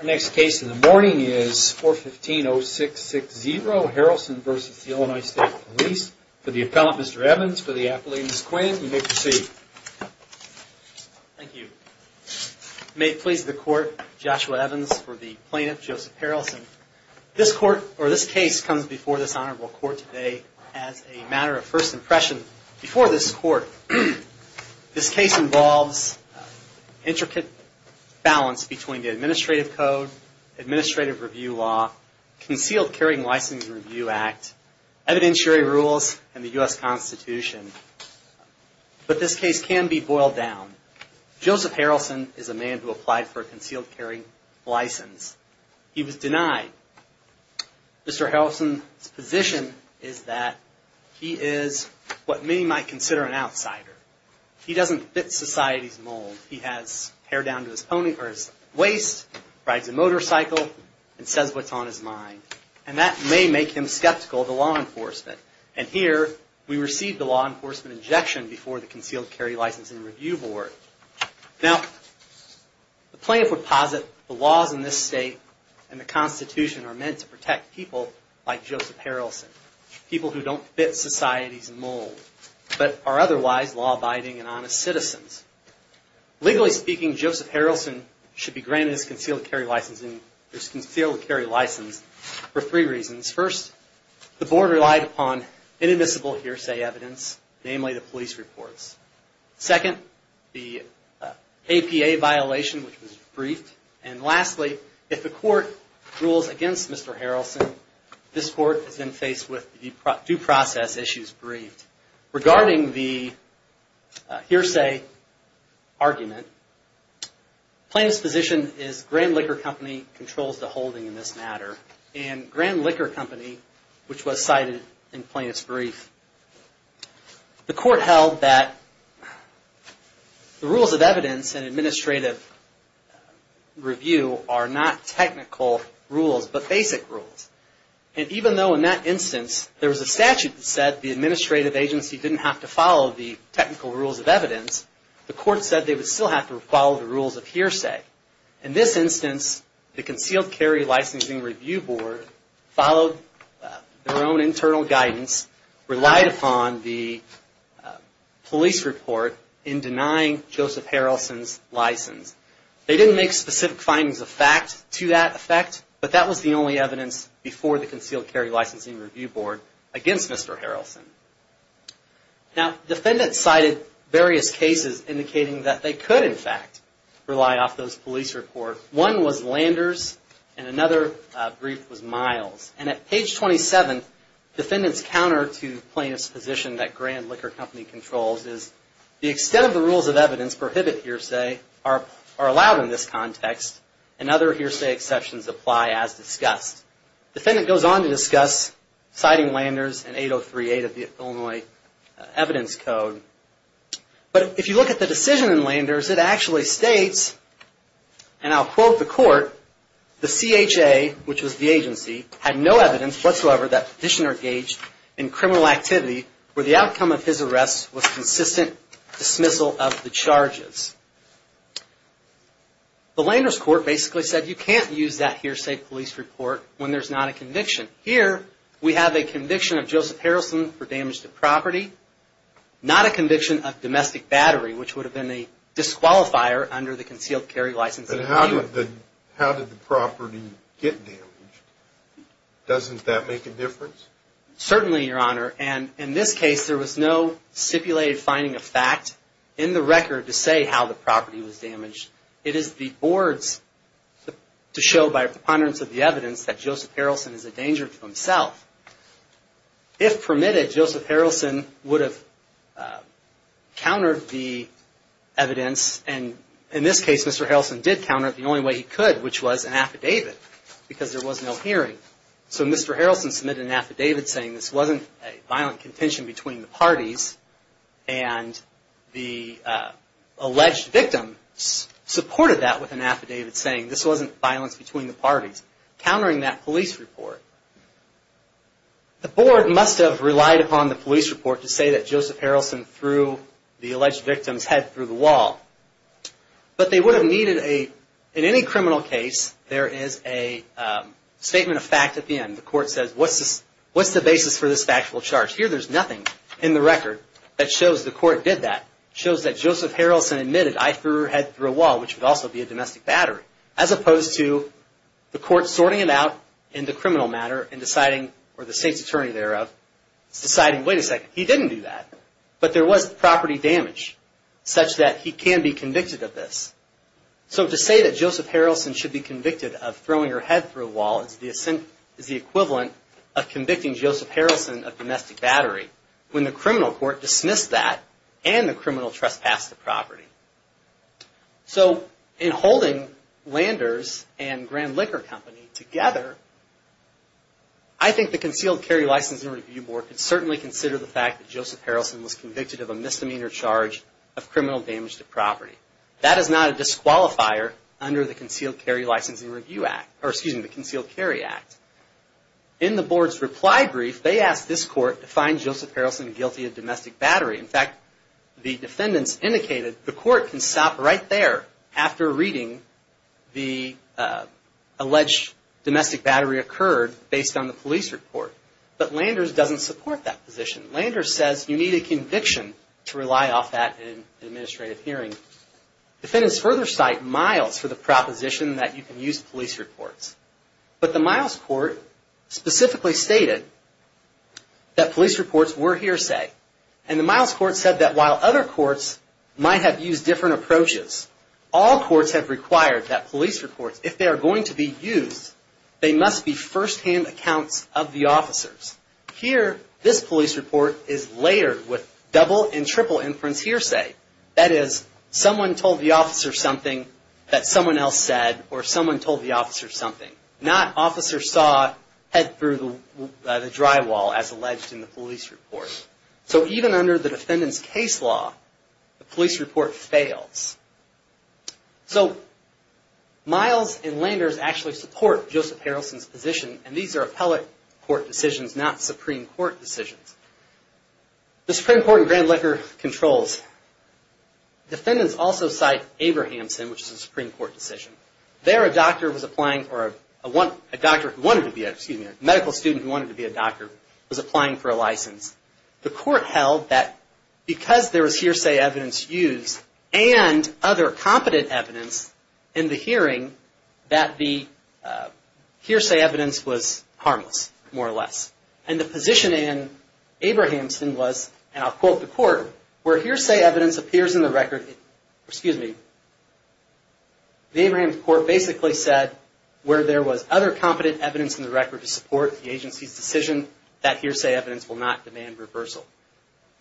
Our next case in the morning is 415-0660, Harrelson v. Illinois State Police. For the appellant, Mr. Evans, for the appellant, Ms. Quinn, you may proceed. Thank you. May it please the court, Joshua Evans for the plaintiff, Joseph Harrelson. This court, or this case, comes before this honorable court today as a matter of first impression. Before this court, this case involves intricate balance between the administrative code, administrative review law, concealed carrying license review act, evidentiary rules, and the U.S. Constitution. But this case can be boiled down. Joseph Harrelson is a man who applied for a concealed carrying license. He was denied. Mr. Harrelson's position is that he is what many might consider an outsider. He doesn't fit society's mold. He has hair down to his waist, rides a motorcycle, and says what's on his mind. And that may make him skeptical of the law enforcement. And here, we receive the law enforcement injection before the concealed carry license and review board. Now, the plaintiff would posit the laws in this state and the Constitution are meant to protect people like Joseph Harrelson. People who don't fit society's mold, but are otherwise law-abiding and honest citizens. Legally speaking, Joseph Harrelson should be granted his concealed carry license for three reasons. First, the board relied upon inadmissible hearsay evidence, namely the police reports. Second, the APA violation, which was briefed. And lastly, if the court rules against Mr. Harrelson, this court is then faced with due process issues briefed. Regarding the hearsay argument, plaintiff's position is Grand Liquor Company controls the holding in this matter. And Grand Liquor Company, which was cited in plaintiff's brief. The court held that the rules of evidence in administrative review are not technical rules, but basic rules. And even though in that instance, there was a statute that said the administrative agency didn't have to follow the technical rules of evidence, the court said they would still have to follow the rules of hearsay. In this instance, the concealed carry licensing review board followed their own internal guidance relied upon the police report in denying Joseph Harrelson's license. They didn't make specific findings of fact to that effect, but that was the only evidence before the concealed carry licensing review board against Mr. Harrelson. Now, defendants cited various cases indicating that they could, in fact, rely off those police reports. One was Landers and another brief was Miles. And at page 27, defendant's counter to plaintiff's position that Grand Liquor Company controls is the extent of the rules of evidence prohibit hearsay are allowed in this context and other hearsay exceptions apply as discussed. Defendant goes on to discuss citing Landers in 8038 of the Illinois Evidence Code. But if you look at the decision in Landers, it actually states, and I'll quote the court, the CHA, which was the agency, had no evidence whatsoever that petitioner engaged in criminal activity where the outcome of his arrest was consistent dismissal of the charges. The Landers court basically said you can't use that hearsay police report when there's not a conviction. Here, we have a conviction of Joseph Harrelson for damage to property, not a conviction of domestic battery, which would have been a disqualifier under the concealed carry licensing review. But how did the property get damaged? Doesn't that make a difference? Certainly, Your Honor. And in this case, there was no stipulated finding of fact in the record to say how the property was damaged. It is the board's to show by a preponderance of the evidence that Joseph Harrelson is a danger to himself. If permitted, Joseph Harrelson would have countered the evidence and in this case, Mr. Harrelson did counter it the only way he could, which was an affidavit because there was no hearing. So Mr. Harrelson submitted an affidavit saying this wasn't a violent contention between the parties and the alleged victim supported that with an affidavit saying this wasn't violence between the parties, countering that police report. The board must have relied upon the police report to say that Joseph Harrelson threw the alleged victim's head through the wall. But they would have needed a, in any criminal case, there is a statement of fact at the end. The court says, what's the basis for this factual charge? Here there's nothing in the record that shows the court did that, shows that Joseph Harrelson admitted I threw her head through a wall, which would also be a domestic battery, as opposed to the court sorting it out in the criminal matter and deciding, or the state's attorney thereof, deciding, wait a second, he didn't do that. But there was property damage such that he can be convicted of this. So to say that Joseph Harrelson should be convicted of throwing her head through a wall is the equivalent of convicting Joseph Harrelson of domestic battery when the criminal court dismissed that and the criminal trespassed the property. So in holding Landers and Grand Liquor Company together, I think the Concealed Carry License and Review Board could certainly consider the fact that Joseph Harrelson was convicted of a misdemeanor charge of criminal damage to property. That is not a disqualifier under the Concealed Carry License and Review Act, or excuse me, the Concealed Carry Act. In the board's reply brief, they asked this court to find Joseph Harrelson guilty of domestic battery. In fact, the defendants indicated the court can stop right there after reading the alleged domestic battery occurred based on the police report. But Landers doesn't support that position. Landers says you need a conviction to rely off that in an administrative hearing. Defendants further cite Miles for the proposition that you can use police reports. But the Miles court specifically stated that police reports were hearsay. And the Miles court said that while other courts might have used different approaches, all courts have required that police reports, if they are going to be used, they must be Here, this police report is layered with double and triple inference hearsay. That is, someone told the officer something that someone else said, or someone told the officer something. Not officer saw head through the drywall, as alleged in the police report. So even under the defendant's case law, the police report fails. So Miles and Landers actually support Joseph Harrelson's position, and these are appellate court decisions, not Supreme Court decisions. The Supreme Court in Grand Laker controls. Defendants also cite Abrahamson, which is a Supreme Court decision. There a doctor was applying, or a doctor who wanted to be, excuse me, a medical student who wanted to be a doctor was applying for a license. The court held that because there was hearsay evidence used, and other competent evidence in the hearing, that the hearsay evidence was harmless, more or less. And the position in Abrahamson was, and I'll quote the court, where hearsay evidence appears in the record, excuse me, the Abrahamson court basically said, where there was other competent evidence in the record to support the agency's decision, that hearsay evidence will not demand reversal.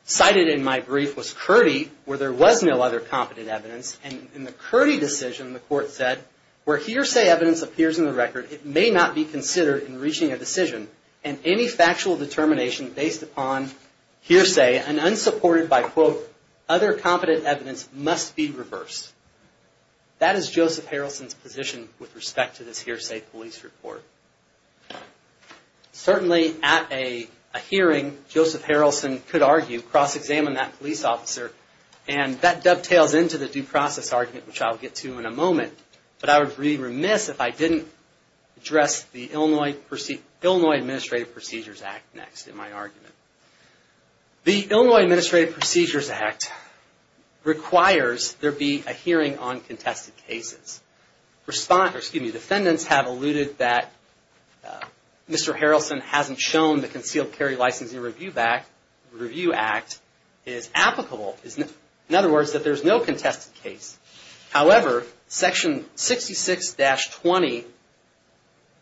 Cited in my brief was Kurdy, where there was no other competent evidence, and in the Kurdy decision the court said, where hearsay evidence appears in the record, it may not be considered in reaching a decision, and any factual determination based upon hearsay, and unsupported by quote, other competent evidence, must be reversed. That is Joseph Harrelson's position with respect to this hearsay police report. Certainly at a hearing, Joseph Harrelson could argue, cross-examine that police officer, and that dovetails into the due process argument, which I'll get to in a moment, but I would be remiss if I didn't address the Illinois Administrative Procedures Act next in my argument. The Illinois Administrative Procedures Act requires there be a hearing on contested cases. Defendants have alluded that Mr. Harrelson hasn't shown the Concealed Carry Licensing Review Act is applicable, in other words, that there's no contested case. However, section 66-20,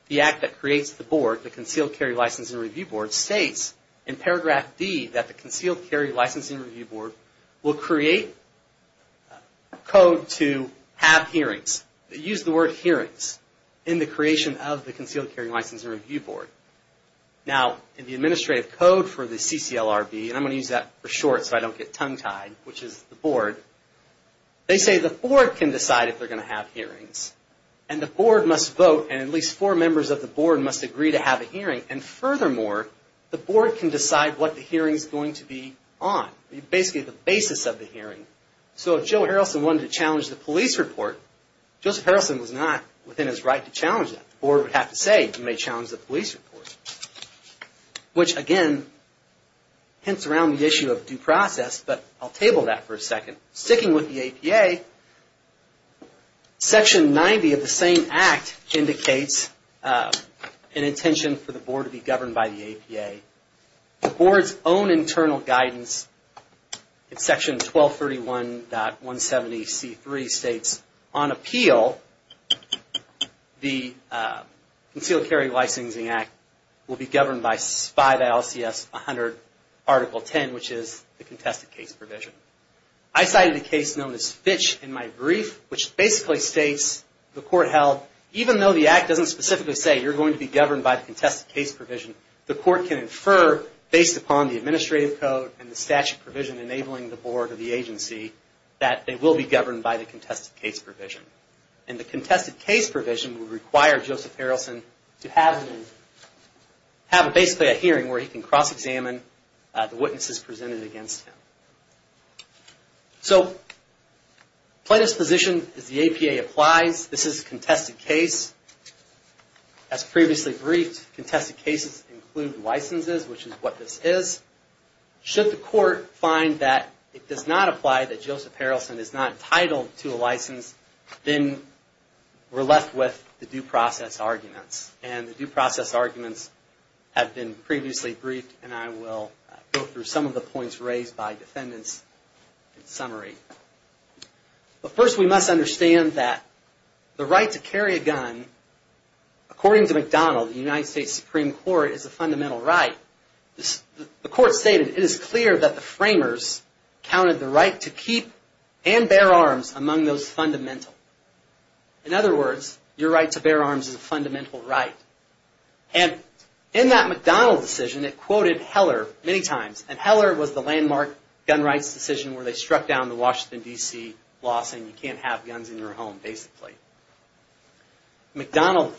the act that creates the board, the Concealed Carry Licensing Review Board, states in paragraph D that the Concealed Carry Licensing Review Board will create code to have hearings, use the word hearings, in the creation of the Concealed Carry Licensing Review Board. Now, in the administrative code for the CCLRB, and I'm going to use that for short so I don't get tongue-tied, which is the board, they say the board can decide if they're going to have hearings, and the board must vote, and at least four members of the board must agree to have a hearing, and furthermore, the board can decide what the hearing's going to be on, basically the basis of the hearing. So if Joe Harrelson wanted to challenge the police report, Joseph Harrelson was not within his right to challenge that. The board would have to say, you may challenge the police report, which, again, hints around the issue of due process, but I'll table that for a second. Sticking with the APA, section 90 of the same act indicates an intention for the board to be governed by the APA. The board's own internal guidance in section 1231.170C3 states, on appeal, the board must be governed by the concealed carry licensing act, which will be governed by SPI, the LCS 100, article 10, which is the contested case provision. I cited a case known as Fitch in my brief, which basically states, the court held, even though the act doesn't specifically say you're going to be governed by the contested case provision, the court can infer, based upon the administrative code and the statute provision enabling the board or the agency, that they will be governed by the contested case provision. And the contested case provision would require Joseph Harrelson to have, basically, a hearing where he can cross-examine the witnesses presented against him. So plaintiff's position is the APA applies, this is a contested case. As previously briefed, contested cases include licenses, which is what this is. Should the court find that it does not apply, that Joseph Harrelson is not entitled to a license, then we're left with the due process arguments. And the due process arguments have been previously briefed, and I will go through some of the points raised by defendants in summary. But first we must understand that the right to carry a gun, according to McDonald, the United States Supreme Court, is a fundamental right. The court stated, it is clear that the framers counted the right to keep and bear arms among those fundamental. In other words, your right to bear arms is a fundamental right. And in that McDonald decision, it quoted Heller many times, and Heller was the landmark gun rights decision where they struck down the Washington, D.C. law saying you can't have guns in your home, basically. McDonald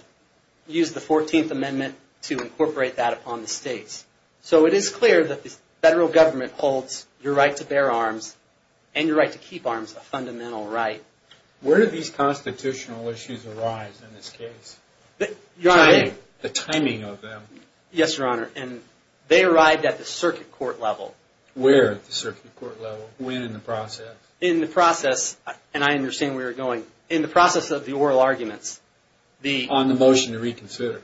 used the 14th Amendment to incorporate that upon the states. So it is clear that the federal government holds your right to bear arms and your right to keep arms a fundamental right. Where did these constitutional issues arise in this case? The timing of them. Yes, Your Honor, and they arrived at the circuit court level. Where at the circuit court level, when in the process? In the process, and I understand where you're going, in the process of the oral arguments, the On the motion to reconsider.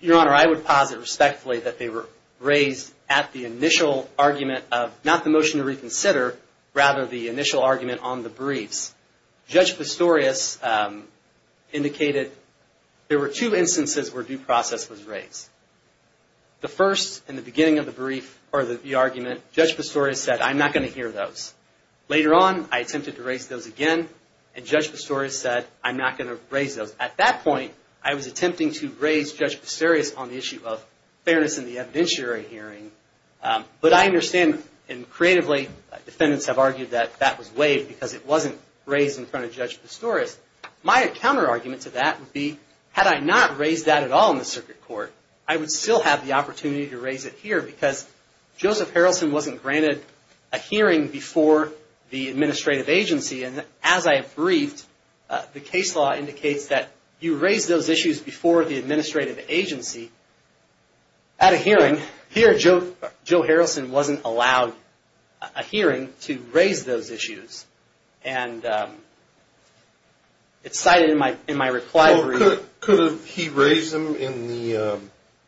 Your Honor, I would posit respectfully that they were raised at the initial argument of not the motion to reconsider, rather the initial argument on the briefs. Judge Pistorius indicated there were two instances where due process was raised. The first, in the beginning of the brief, or the argument, Judge Pistorius said I'm not going to hear those. Later on, I attempted to raise those again, and Judge Pistorius said I'm not going to raise those. At that point, I was attempting to raise Judge Pistorius on the issue of fairness in the evidentiary hearing, but I understand, and creatively, defendants have argued that that was waived because it wasn't raised in front of Judge Pistorius. My counter-argument to that would be, had I not raised that at all in the circuit court, I would still have the opportunity to raise it here because Joseph Harrelson wasn't granted a hearing before the administrative agency, and as I briefed, the case law indicates that you raise those issues before the administrative agency at a hearing. Here, Joe Harrelson wasn't allowed a hearing to raise those issues, and it's cited in my reply brief. Could he raise them in the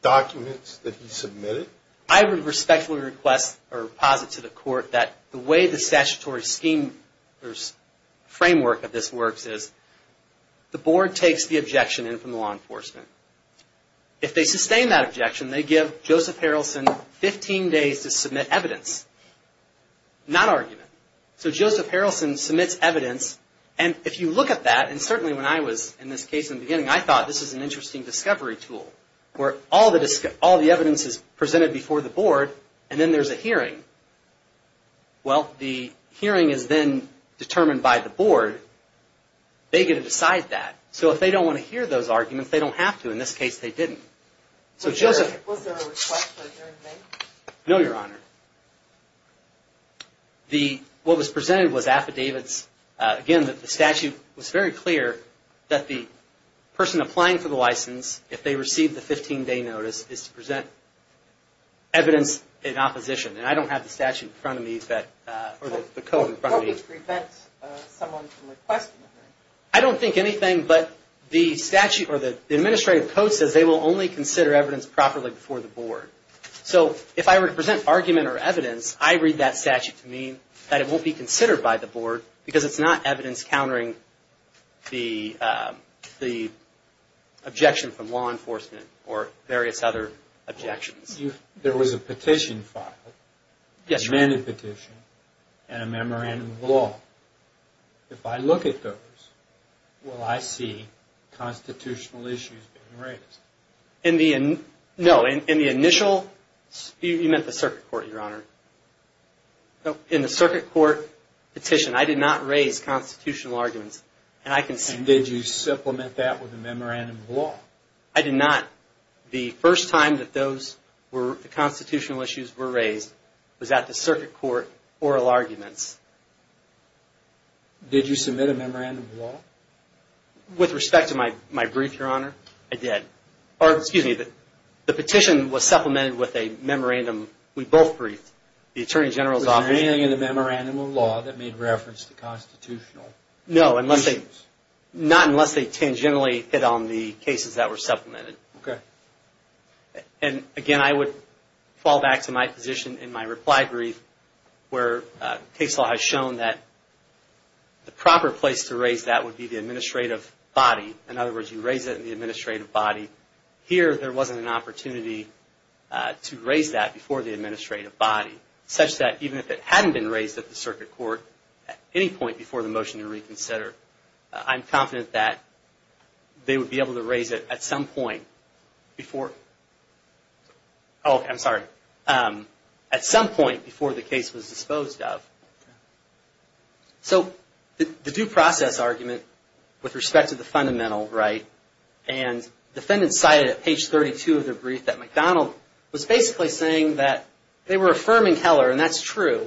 documents that he submitted? I respectfully request or posit to the court that the way the statutory scheme or framework of this works is, the board takes the objection in from the law enforcement. If they sustain that objection, they give Joseph Harrelson 15 days to submit evidence, not argument. So Joseph Harrelson submits evidence, and if you look at that, and certainly when I was in this case in the beginning, I thought this is an interesting discovery tool where all the evidence is presented before the board, and then there's a hearing. Well, the hearing is then determined by the board. They get to decide that. So if they don't want to hear those arguments, they don't have to. In this case, they didn't. So Joseph... Was there a request for a hearing made? No, Your Honor. What was presented was affidavits. Again, the statute was very clear that the person applying for the license, if they receive the 15-day notice, is to present evidence in opposition, and I don't have the statute in front of me that... Or the code in front of me. What would prevent someone from requesting a hearing? I don't think anything, but the statute or the administrative code says they will only consider evidence properly before the board. So if I were to present argument or evidence, I read that statute to mean that it won't be considered by the board because it's not evidence countering the objection from law enforcement or various other objections. There was a petition file, an amended petition, and a memorandum of law. If I look at those, will I see constitutional issues being raised? No, in the initial... You meant the circuit court, Your Honor. No, in the circuit court petition, I did not raise constitutional arguments, and I can see... And did you supplement that with a memorandum of law? I did not. The first time that those were, the constitutional issues were raised, was at the circuit court oral arguments. Did you submit a memorandum of law? With respect to my brief, Your Honor, I did. Or, excuse me, the petition was supplemented with a memorandum we both briefed. The Attorney General's office... Was there anything in the memorandum of law that made reference to constitutional issues? No, not unless they tangentially hit on the cases that were supplemented. Okay. And, again, I would fall back to my position in my reply brief where case law has shown that the proper place to raise that would be the administrative body. In other words, you raise it in the administrative body. Here, there wasn't an opportunity to raise that before the administrative body, such that even if it hadn't been raised at the circuit court at any point before the motion to reconsider, I'm confident that they would be able to raise it at some point before... Oh, I'm sorry. At some point before the case was disposed of. So, the due process argument with respect to the fundamental, right, and defendants cited at page 32 of their brief that McDonald was basically saying that they were affirming Heller, and that's true.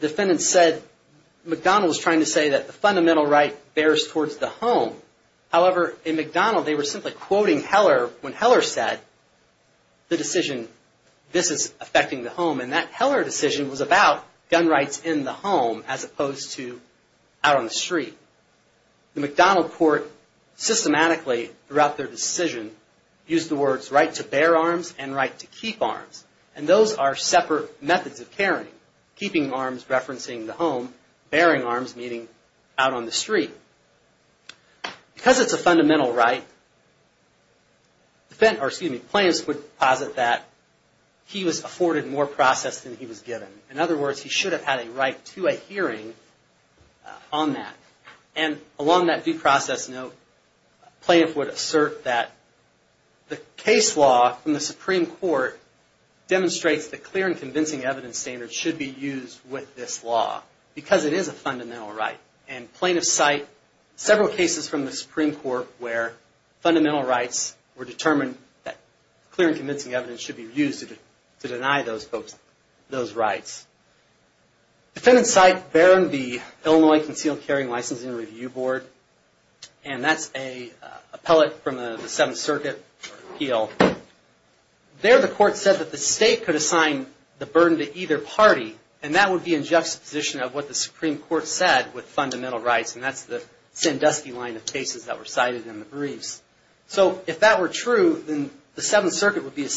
Defendants said McDonald was trying to say that the fundamental right bears towards the home. However, in McDonald, they were simply quoting Heller when Heller said the decision, this is affecting the home. And that Heller decision was about gun rights in the home as opposed to out on the street. The McDonald court systematically throughout their decision used the words right to bear arms and right to keep arms. And those are separate methods of carrying, keeping arms referencing the home, bearing arms meaning out on the street. Because it's a fundamental right, plaintiffs would posit that he was afforded more process than he was given. In other words, he should have had a right to a hearing on that. And along that due process note, plaintiffs would assert that the case law from the Supreme Court demonstrates that clear and convincing evidence standards should be used with this law, because it is a fundamental right. And plaintiffs cite several cases from the Supreme Court where fundamental rights were determined that clear and convincing evidence should be used to deny those folks those rights. Defendants cite Barron v. Illinois Concealed Carrying Licensing Review Board, and that's a appellate from the Seventh Circuit appeal. There the court said that the state could assign the burden to either party, and that would be in juxtaposition of what the Supreme Court said with fundamental rights, and that's the Sandusky line of cases that were cited in the briefs. So, if that were true, then the Seventh Circuit would be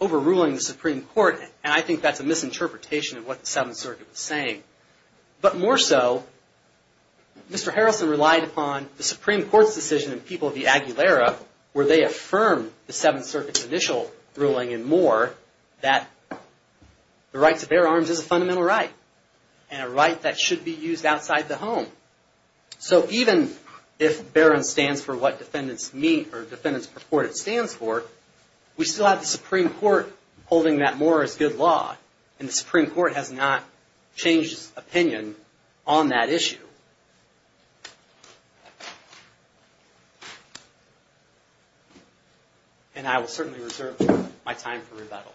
overruling the Supreme Court, and I think that's a misinterpretation of what the Seventh Circuit was saying. But more so, Mr. Harrelson relied upon the Supreme Court's decision in People v. Aguilera where they affirmed the Seventh Circuit's initial ruling in Moore that the right to bear arms is a fundamental right, and a right that should be used outside the home. So, even if Barron stands for what defendants meet or defendants purport it stands for, we still have the Supreme Court holding that Moore is good law, and the Supreme Court has not changed its opinion on that issue. And I will certainly reserve my time for rebuttal.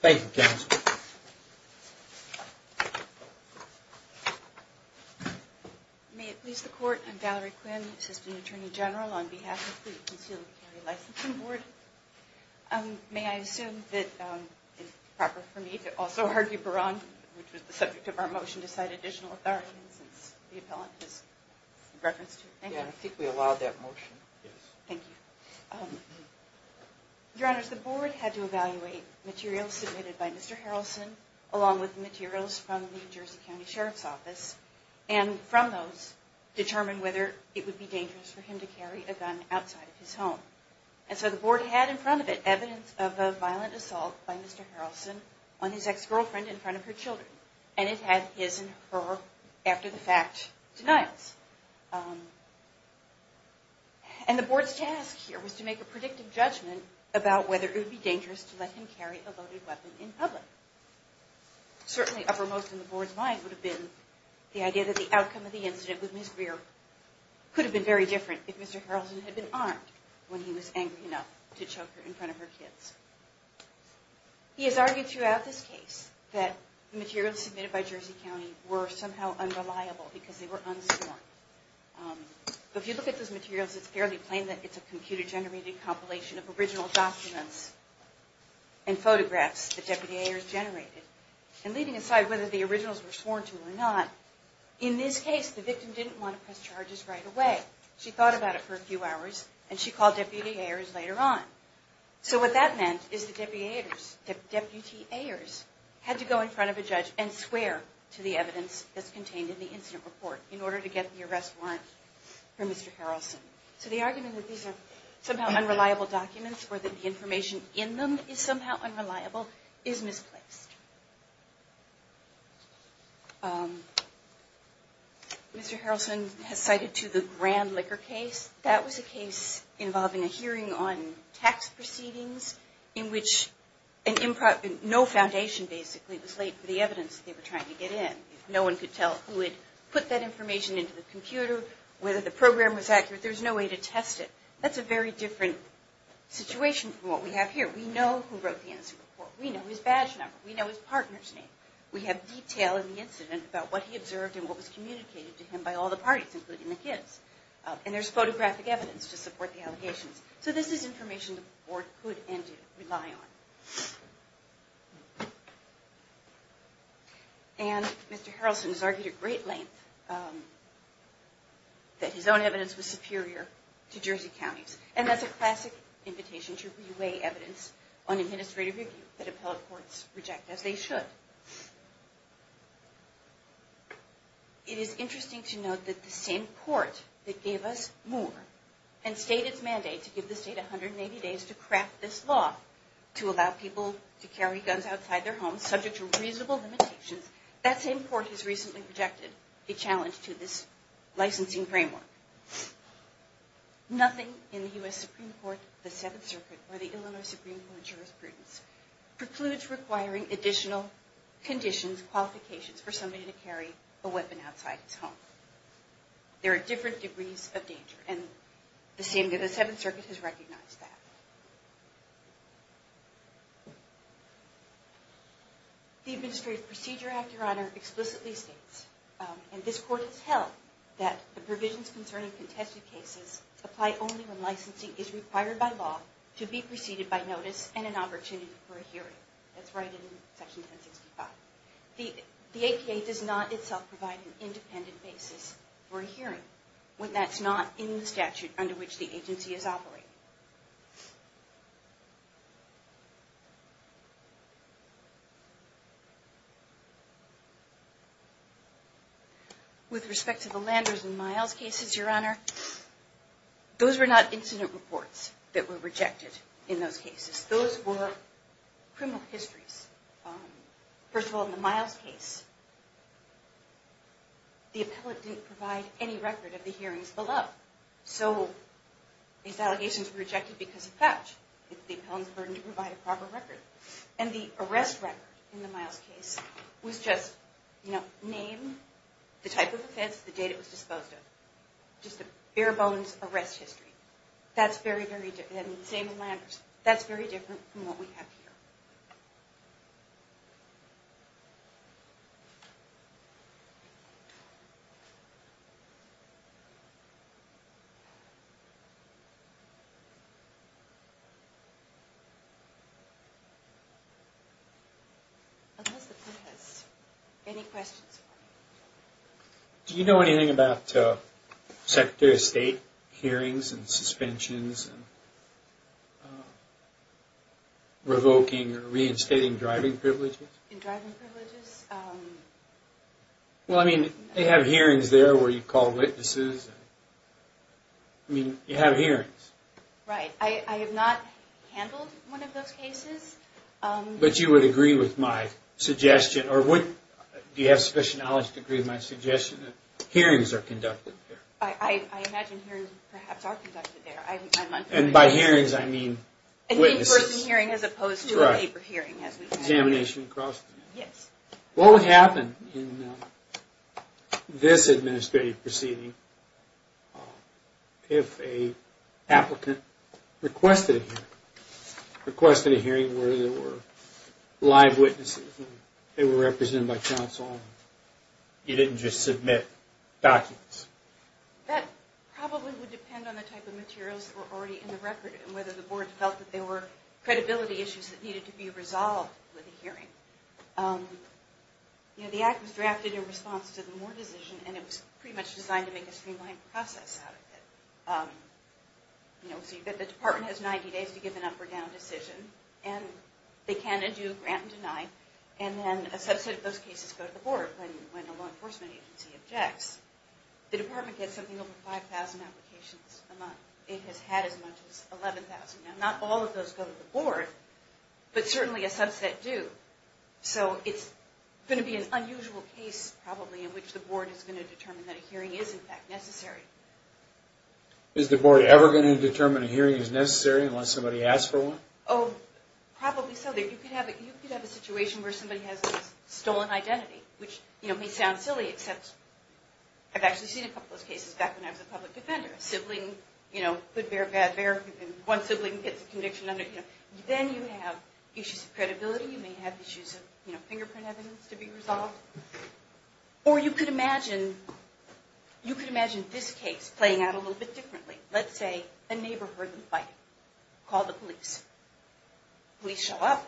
Thank you, counsel. May it please the Court, I'm Valerie Quinn, Assistant Attorney General on behalf of the concealed carry licensing board. Thank you. May I assume that it's proper for me to also argue Barron, which was the subject of our motion, to cite additional authority since the appellant is in reference to it. Yeah, I think we allowed that motion. Thank you. Your Honors, the board had to evaluate materials submitted by Mr. Harrelson, along with materials from the New Jersey County Sheriff's Office, and from those, determine whether it would be dangerous for him to carry a gun outside of his home. And so the board had in front of it evidence of a violent assault by Mr. Harrelson on his ex-girlfriend in front of her children. And it had his and her, after the fact, denials. And the board's task here was to make a predictive judgment about whether it would be dangerous to let him carry a loaded weapon in public. Certainly, uppermost in the board's mind would have been the idea that the outcome of the incident with Ms. Greer could have been very different if Mr. Harrelson had been harmed when he was angry enough to choke her in front of her kids. He has argued throughout this case that the materials submitted by Jersey County were somehow unreliable because they were unsworn. But if you look at those materials, it's fairly plain that it's a computer-generated compilation of original documents and photographs that Deputy Ayers generated. And leaving aside whether the originals were sworn to or not, in this case, the victim didn't want to press charges right away. She thought about it for a few hours, and she called Deputy Ayers later on. So what that meant is that Deputy Ayers had to go in front of a judge and swear to the evidence that's contained in the incident report in order to get the arrest warrant for Mr. Harrelson. So the argument that these are somehow unreliable documents or that the information in them is somehow unreliable is misplaced. Mr. Harrelson has cited, too, the Grand Liquor case. That was a case involving a hearing on tax proceedings in which no foundation, basically, was laid for the evidence that they were trying to get in. No one could tell who had put that information into the computer, whether the program was accurate. There's no way to test it. That's a very different situation from what we have here. We know who wrote the incident report. We know his badge number. We know his name. We know his partner's name. We have detail in the incident about what he observed and what was communicated to him by all the parties, including the kids. And there's photographic evidence to support the allegations. So this is information the board could and do rely on. And Mr. Harrelson has argued at great length that his own evidence was superior to Jersey County's. And that's a classic invitation to re-weigh evidence on administrative review that they should. It is interesting to note that the same court that gave us Moore and stated its mandate to give the state 180 days to craft this law to allow people to carry guns outside their homes, subject to reasonable limitations, that same court has recently rejected the challenge to this licensing framework. Nothing in the U.S. Supreme Court, the Seventh Circuit, or the Illinois Supreme Court of Jurisprudence, precludes requiring additional conditions, qualifications, for somebody to carry a weapon outside his home. There are different degrees of danger. And the Seventh Circuit has recognized that. The Administrative Procedure Act, Your Honor, explicitly states, and this court has held, that the provisions concerning contested cases apply only when licensing is required by law to be preceded by notice and an opportunity for a hearing. That's right in Section 1065. The APA does not itself provide an independent basis for a hearing when that's not in the statute under which the agency is operating. With respect to the Landers and Miles cases, Your Honor, those were not incident reports that were rejected in those cases. Those were criminal histories. First of all, in the Miles case, the appellant didn't provide any record of the hearings below. So these allegations were rejected because of that. The appellant's burden to provide a proper record. And the arrest record in the Miles case was just, you know, name, the type of offense, the date it was disposed of. Just a bare bones arrest history. That's very, very different. Same with Landers. Do you know anything about Secretary of State hearings and suspensions and revoking or reinstating driving privileges? In driving privileges? Well, I mean, they have hearings there where you call witnesses. I mean, you have hearings. Right. I have not handled one of those cases. But you would agree with my suggestion, or do you have sufficient knowledge to agree with my suggestion that hearings are conducted there? I imagine hearings perhaps are conducted there. And by hearings, I mean witnesses. An in-person hearing as opposed to a paper hearing. Examination and cross-examination. Yes. What would happen in this administrative proceeding if an applicant requested a hearing? Requested a hearing where there were live witnesses and they were represented by counsel. You didn't just submit documents. That probably would depend on the type of materials that were already in the record and whether the board felt that there were credibility issues that The act was drafted in response to the Moore decision, and it was pretty much designed to make a streamlined process out of it. So the department has 90 days to give an up or down decision. And they can and do grant and deny. And then a subset of those cases go to the board when a law enforcement agency objects. The department gets something over 5,000 applications a month. It has had as much as 11,000. Now, not all of those go to the board, but certainly a subset do. So it's going to be an unusual case probably in which the board is going to determine that a hearing is, in fact, necessary. Is the board ever going to determine a hearing is necessary unless somebody asks for one? Oh, probably so. You could have a situation where somebody has a stolen identity, which may sound silly except I've actually seen a couple of those cases back when I was a public defender. A sibling, you know, good bear, bad bear, and one sibling gets a conviction under, you know. Then you have issues of credibility. You may have issues of, you know, fingerprint evidence to be resolved. Or you could imagine, you could imagine this case playing out a little bit differently. Let's say a neighborhood is fighting. Call the police. Police show up.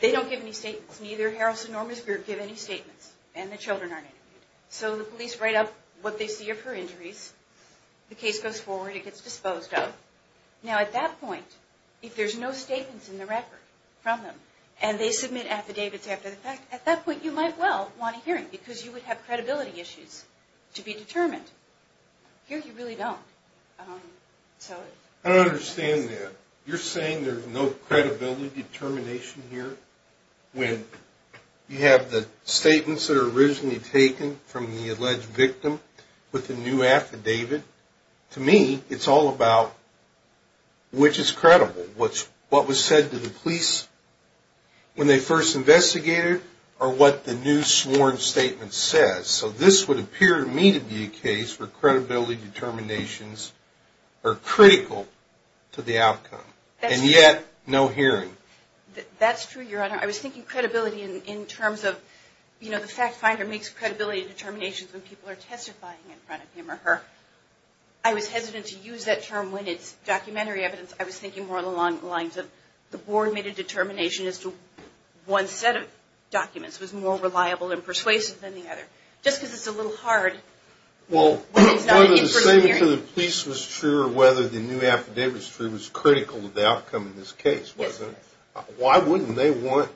They don't give any statements. Neither Harrelson nor Miss Beard give any statements. And the children aren't interviewed. So the police write up what they see of her injuries. The case goes forward. It gets disposed of. Now at that point, if there's no statements in the record from them and they submit affidavits after the fact, at that point you might well want a hearing because you would have credibility issues to be determined. Here you really don't. I don't understand that. You're saying there's no credibility determination here when you have the statements that are originally taken from the alleged victim with the new affidavit? To me, it's all about which is credible, what was said to the police when they first investigated or what the new sworn statement says. So this would appear to me to be a case where credibility determinations are critical to the outcome. And yet, no hearing. That's true, Your Honor. I was thinking credibility in terms of, you know, the fact finder makes credibility determinations when people are testifying in front of him or her. I was hesitant to use that term when it's documentary evidence. I was thinking more along the lines of the board made a determination as to one set of documents was more reliable and persuasive than the other. Just because it's a little hard when it's not an in-person hearing. Whether the statement to the police was true or whether the new affidavit was true was critical to the outcome of this case, wasn't it? Why wouldn't they want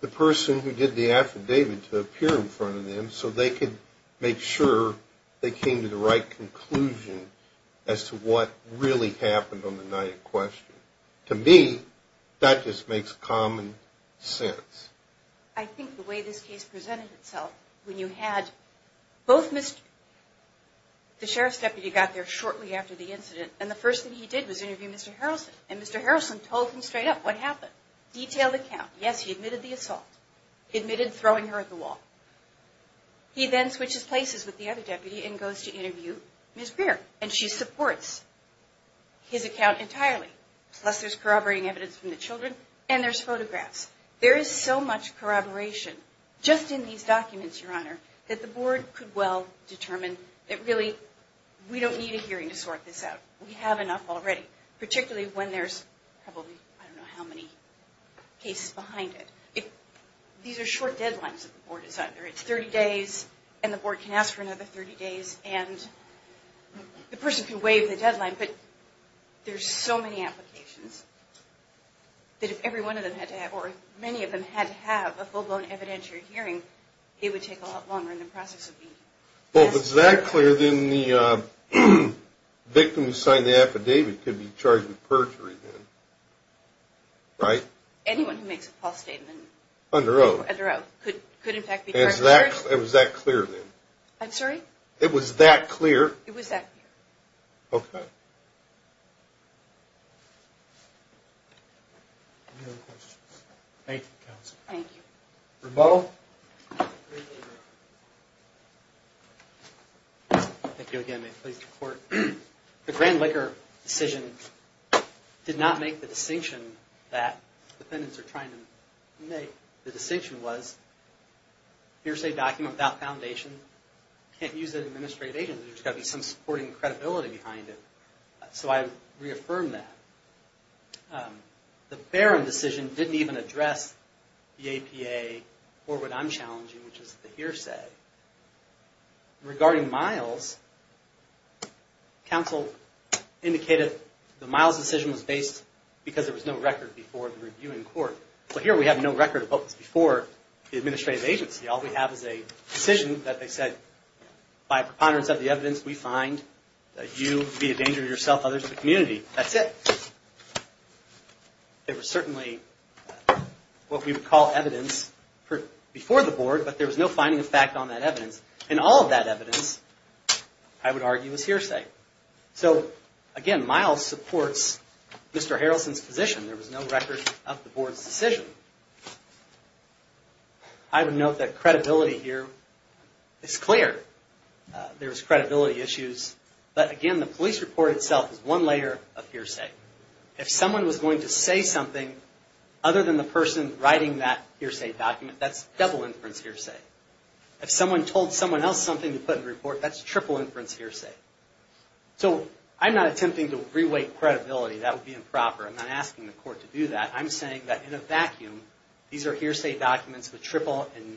the person who did the affidavit to appear in front of them so they could make sure they came to the right conclusion as to what really happened on the night in question? To me, that just makes common sense. I think the way this case presented itself when you had both Mr. The sheriff's deputy got there shortly after the incident, and the first thing he did was interview Mr. Harrison. And Mr. Harrison told him straight up what happened. Detailed account. Yes, he admitted the assault. He admitted throwing her at the wall. He then switches places with the other deputy and goes to interview Ms. Beer, and she supports his account entirely. Plus there's corroborating evidence from the children, and there's photographs. There is so much corroboration just in these documents, Your Honor, that the board could well determine that really we don't need a hearing to sort this out. We have enough already. Particularly when there's probably I don't know how many cases behind it. These are short deadlines that the board is under. It's 30 days, and the board can ask for another 30 days, and the person can waive the deadline. But there's so many applications that if every one of them had to have, or if many of them had to have a full-blown evidentiary hearing, it would take a lot longer in the process of meeting. Well, if it's that clear, then the victim who signed the affidavit could be charged with perjury then, right? Anyone who makes a false statement. Under oath. Under oath. Could, in fact, be charged with perjury. It was that clear then? I'm sorry? It was that clear? It was that clear. Okay. Any other questions? Thank you, counsel. Thank you. Rambo? Thank you again. May it please the Court. The Grand Laker decision did not make the distinction that defendants are trying to make. The distinction was hearsay document without foundation. Can't use it to administrate agents. There's got to be some supporting credibility behind it. So I reaffirmed that. The Barron decision didn't even address the APA or what I'm challenging, which is the hearsay. Regarding Miles, counsel indicated the Miles decision was based because there was no record before the review in court. Well, here we have no record of what was before the administrative agency. All we have is a decision that they said, by preponderance of the evidence, we find that you be a danger to yourself, others to the community. That's it. There was certainly what we would call evidence before the board, but there was no finding of fact on that evidence. And all of that evidence, I would argue, is hearsay. So, again, Miles supports Mr. Harrelson's position. There was no record of the board's decision. I would note that credibility here is clear. There was credibility issues. But, again, the police report itself is one layer of hearsay. If someone was going to say something other than the person writing that hearsay document, that's double inference hearsay. If someone told someone else something to put in the report, that's triple inference hearsay. So I'm not attempting to reweight credibility. That would be improper. I'm not asking the court to do that. I'm saying that in a vacuum, these are hearsay documents with triple and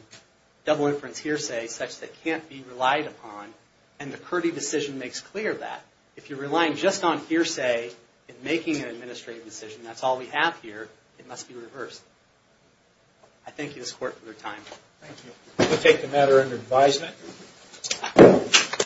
double inference hearsay such that can't be relied upon, and the Kurdi decision makes clear that. If you're relying just on hearsay in making an administrative decision, that's all we have here, it must be reversed. I thank you, this court, for your time. Thank you. We'll take the matter under advisement.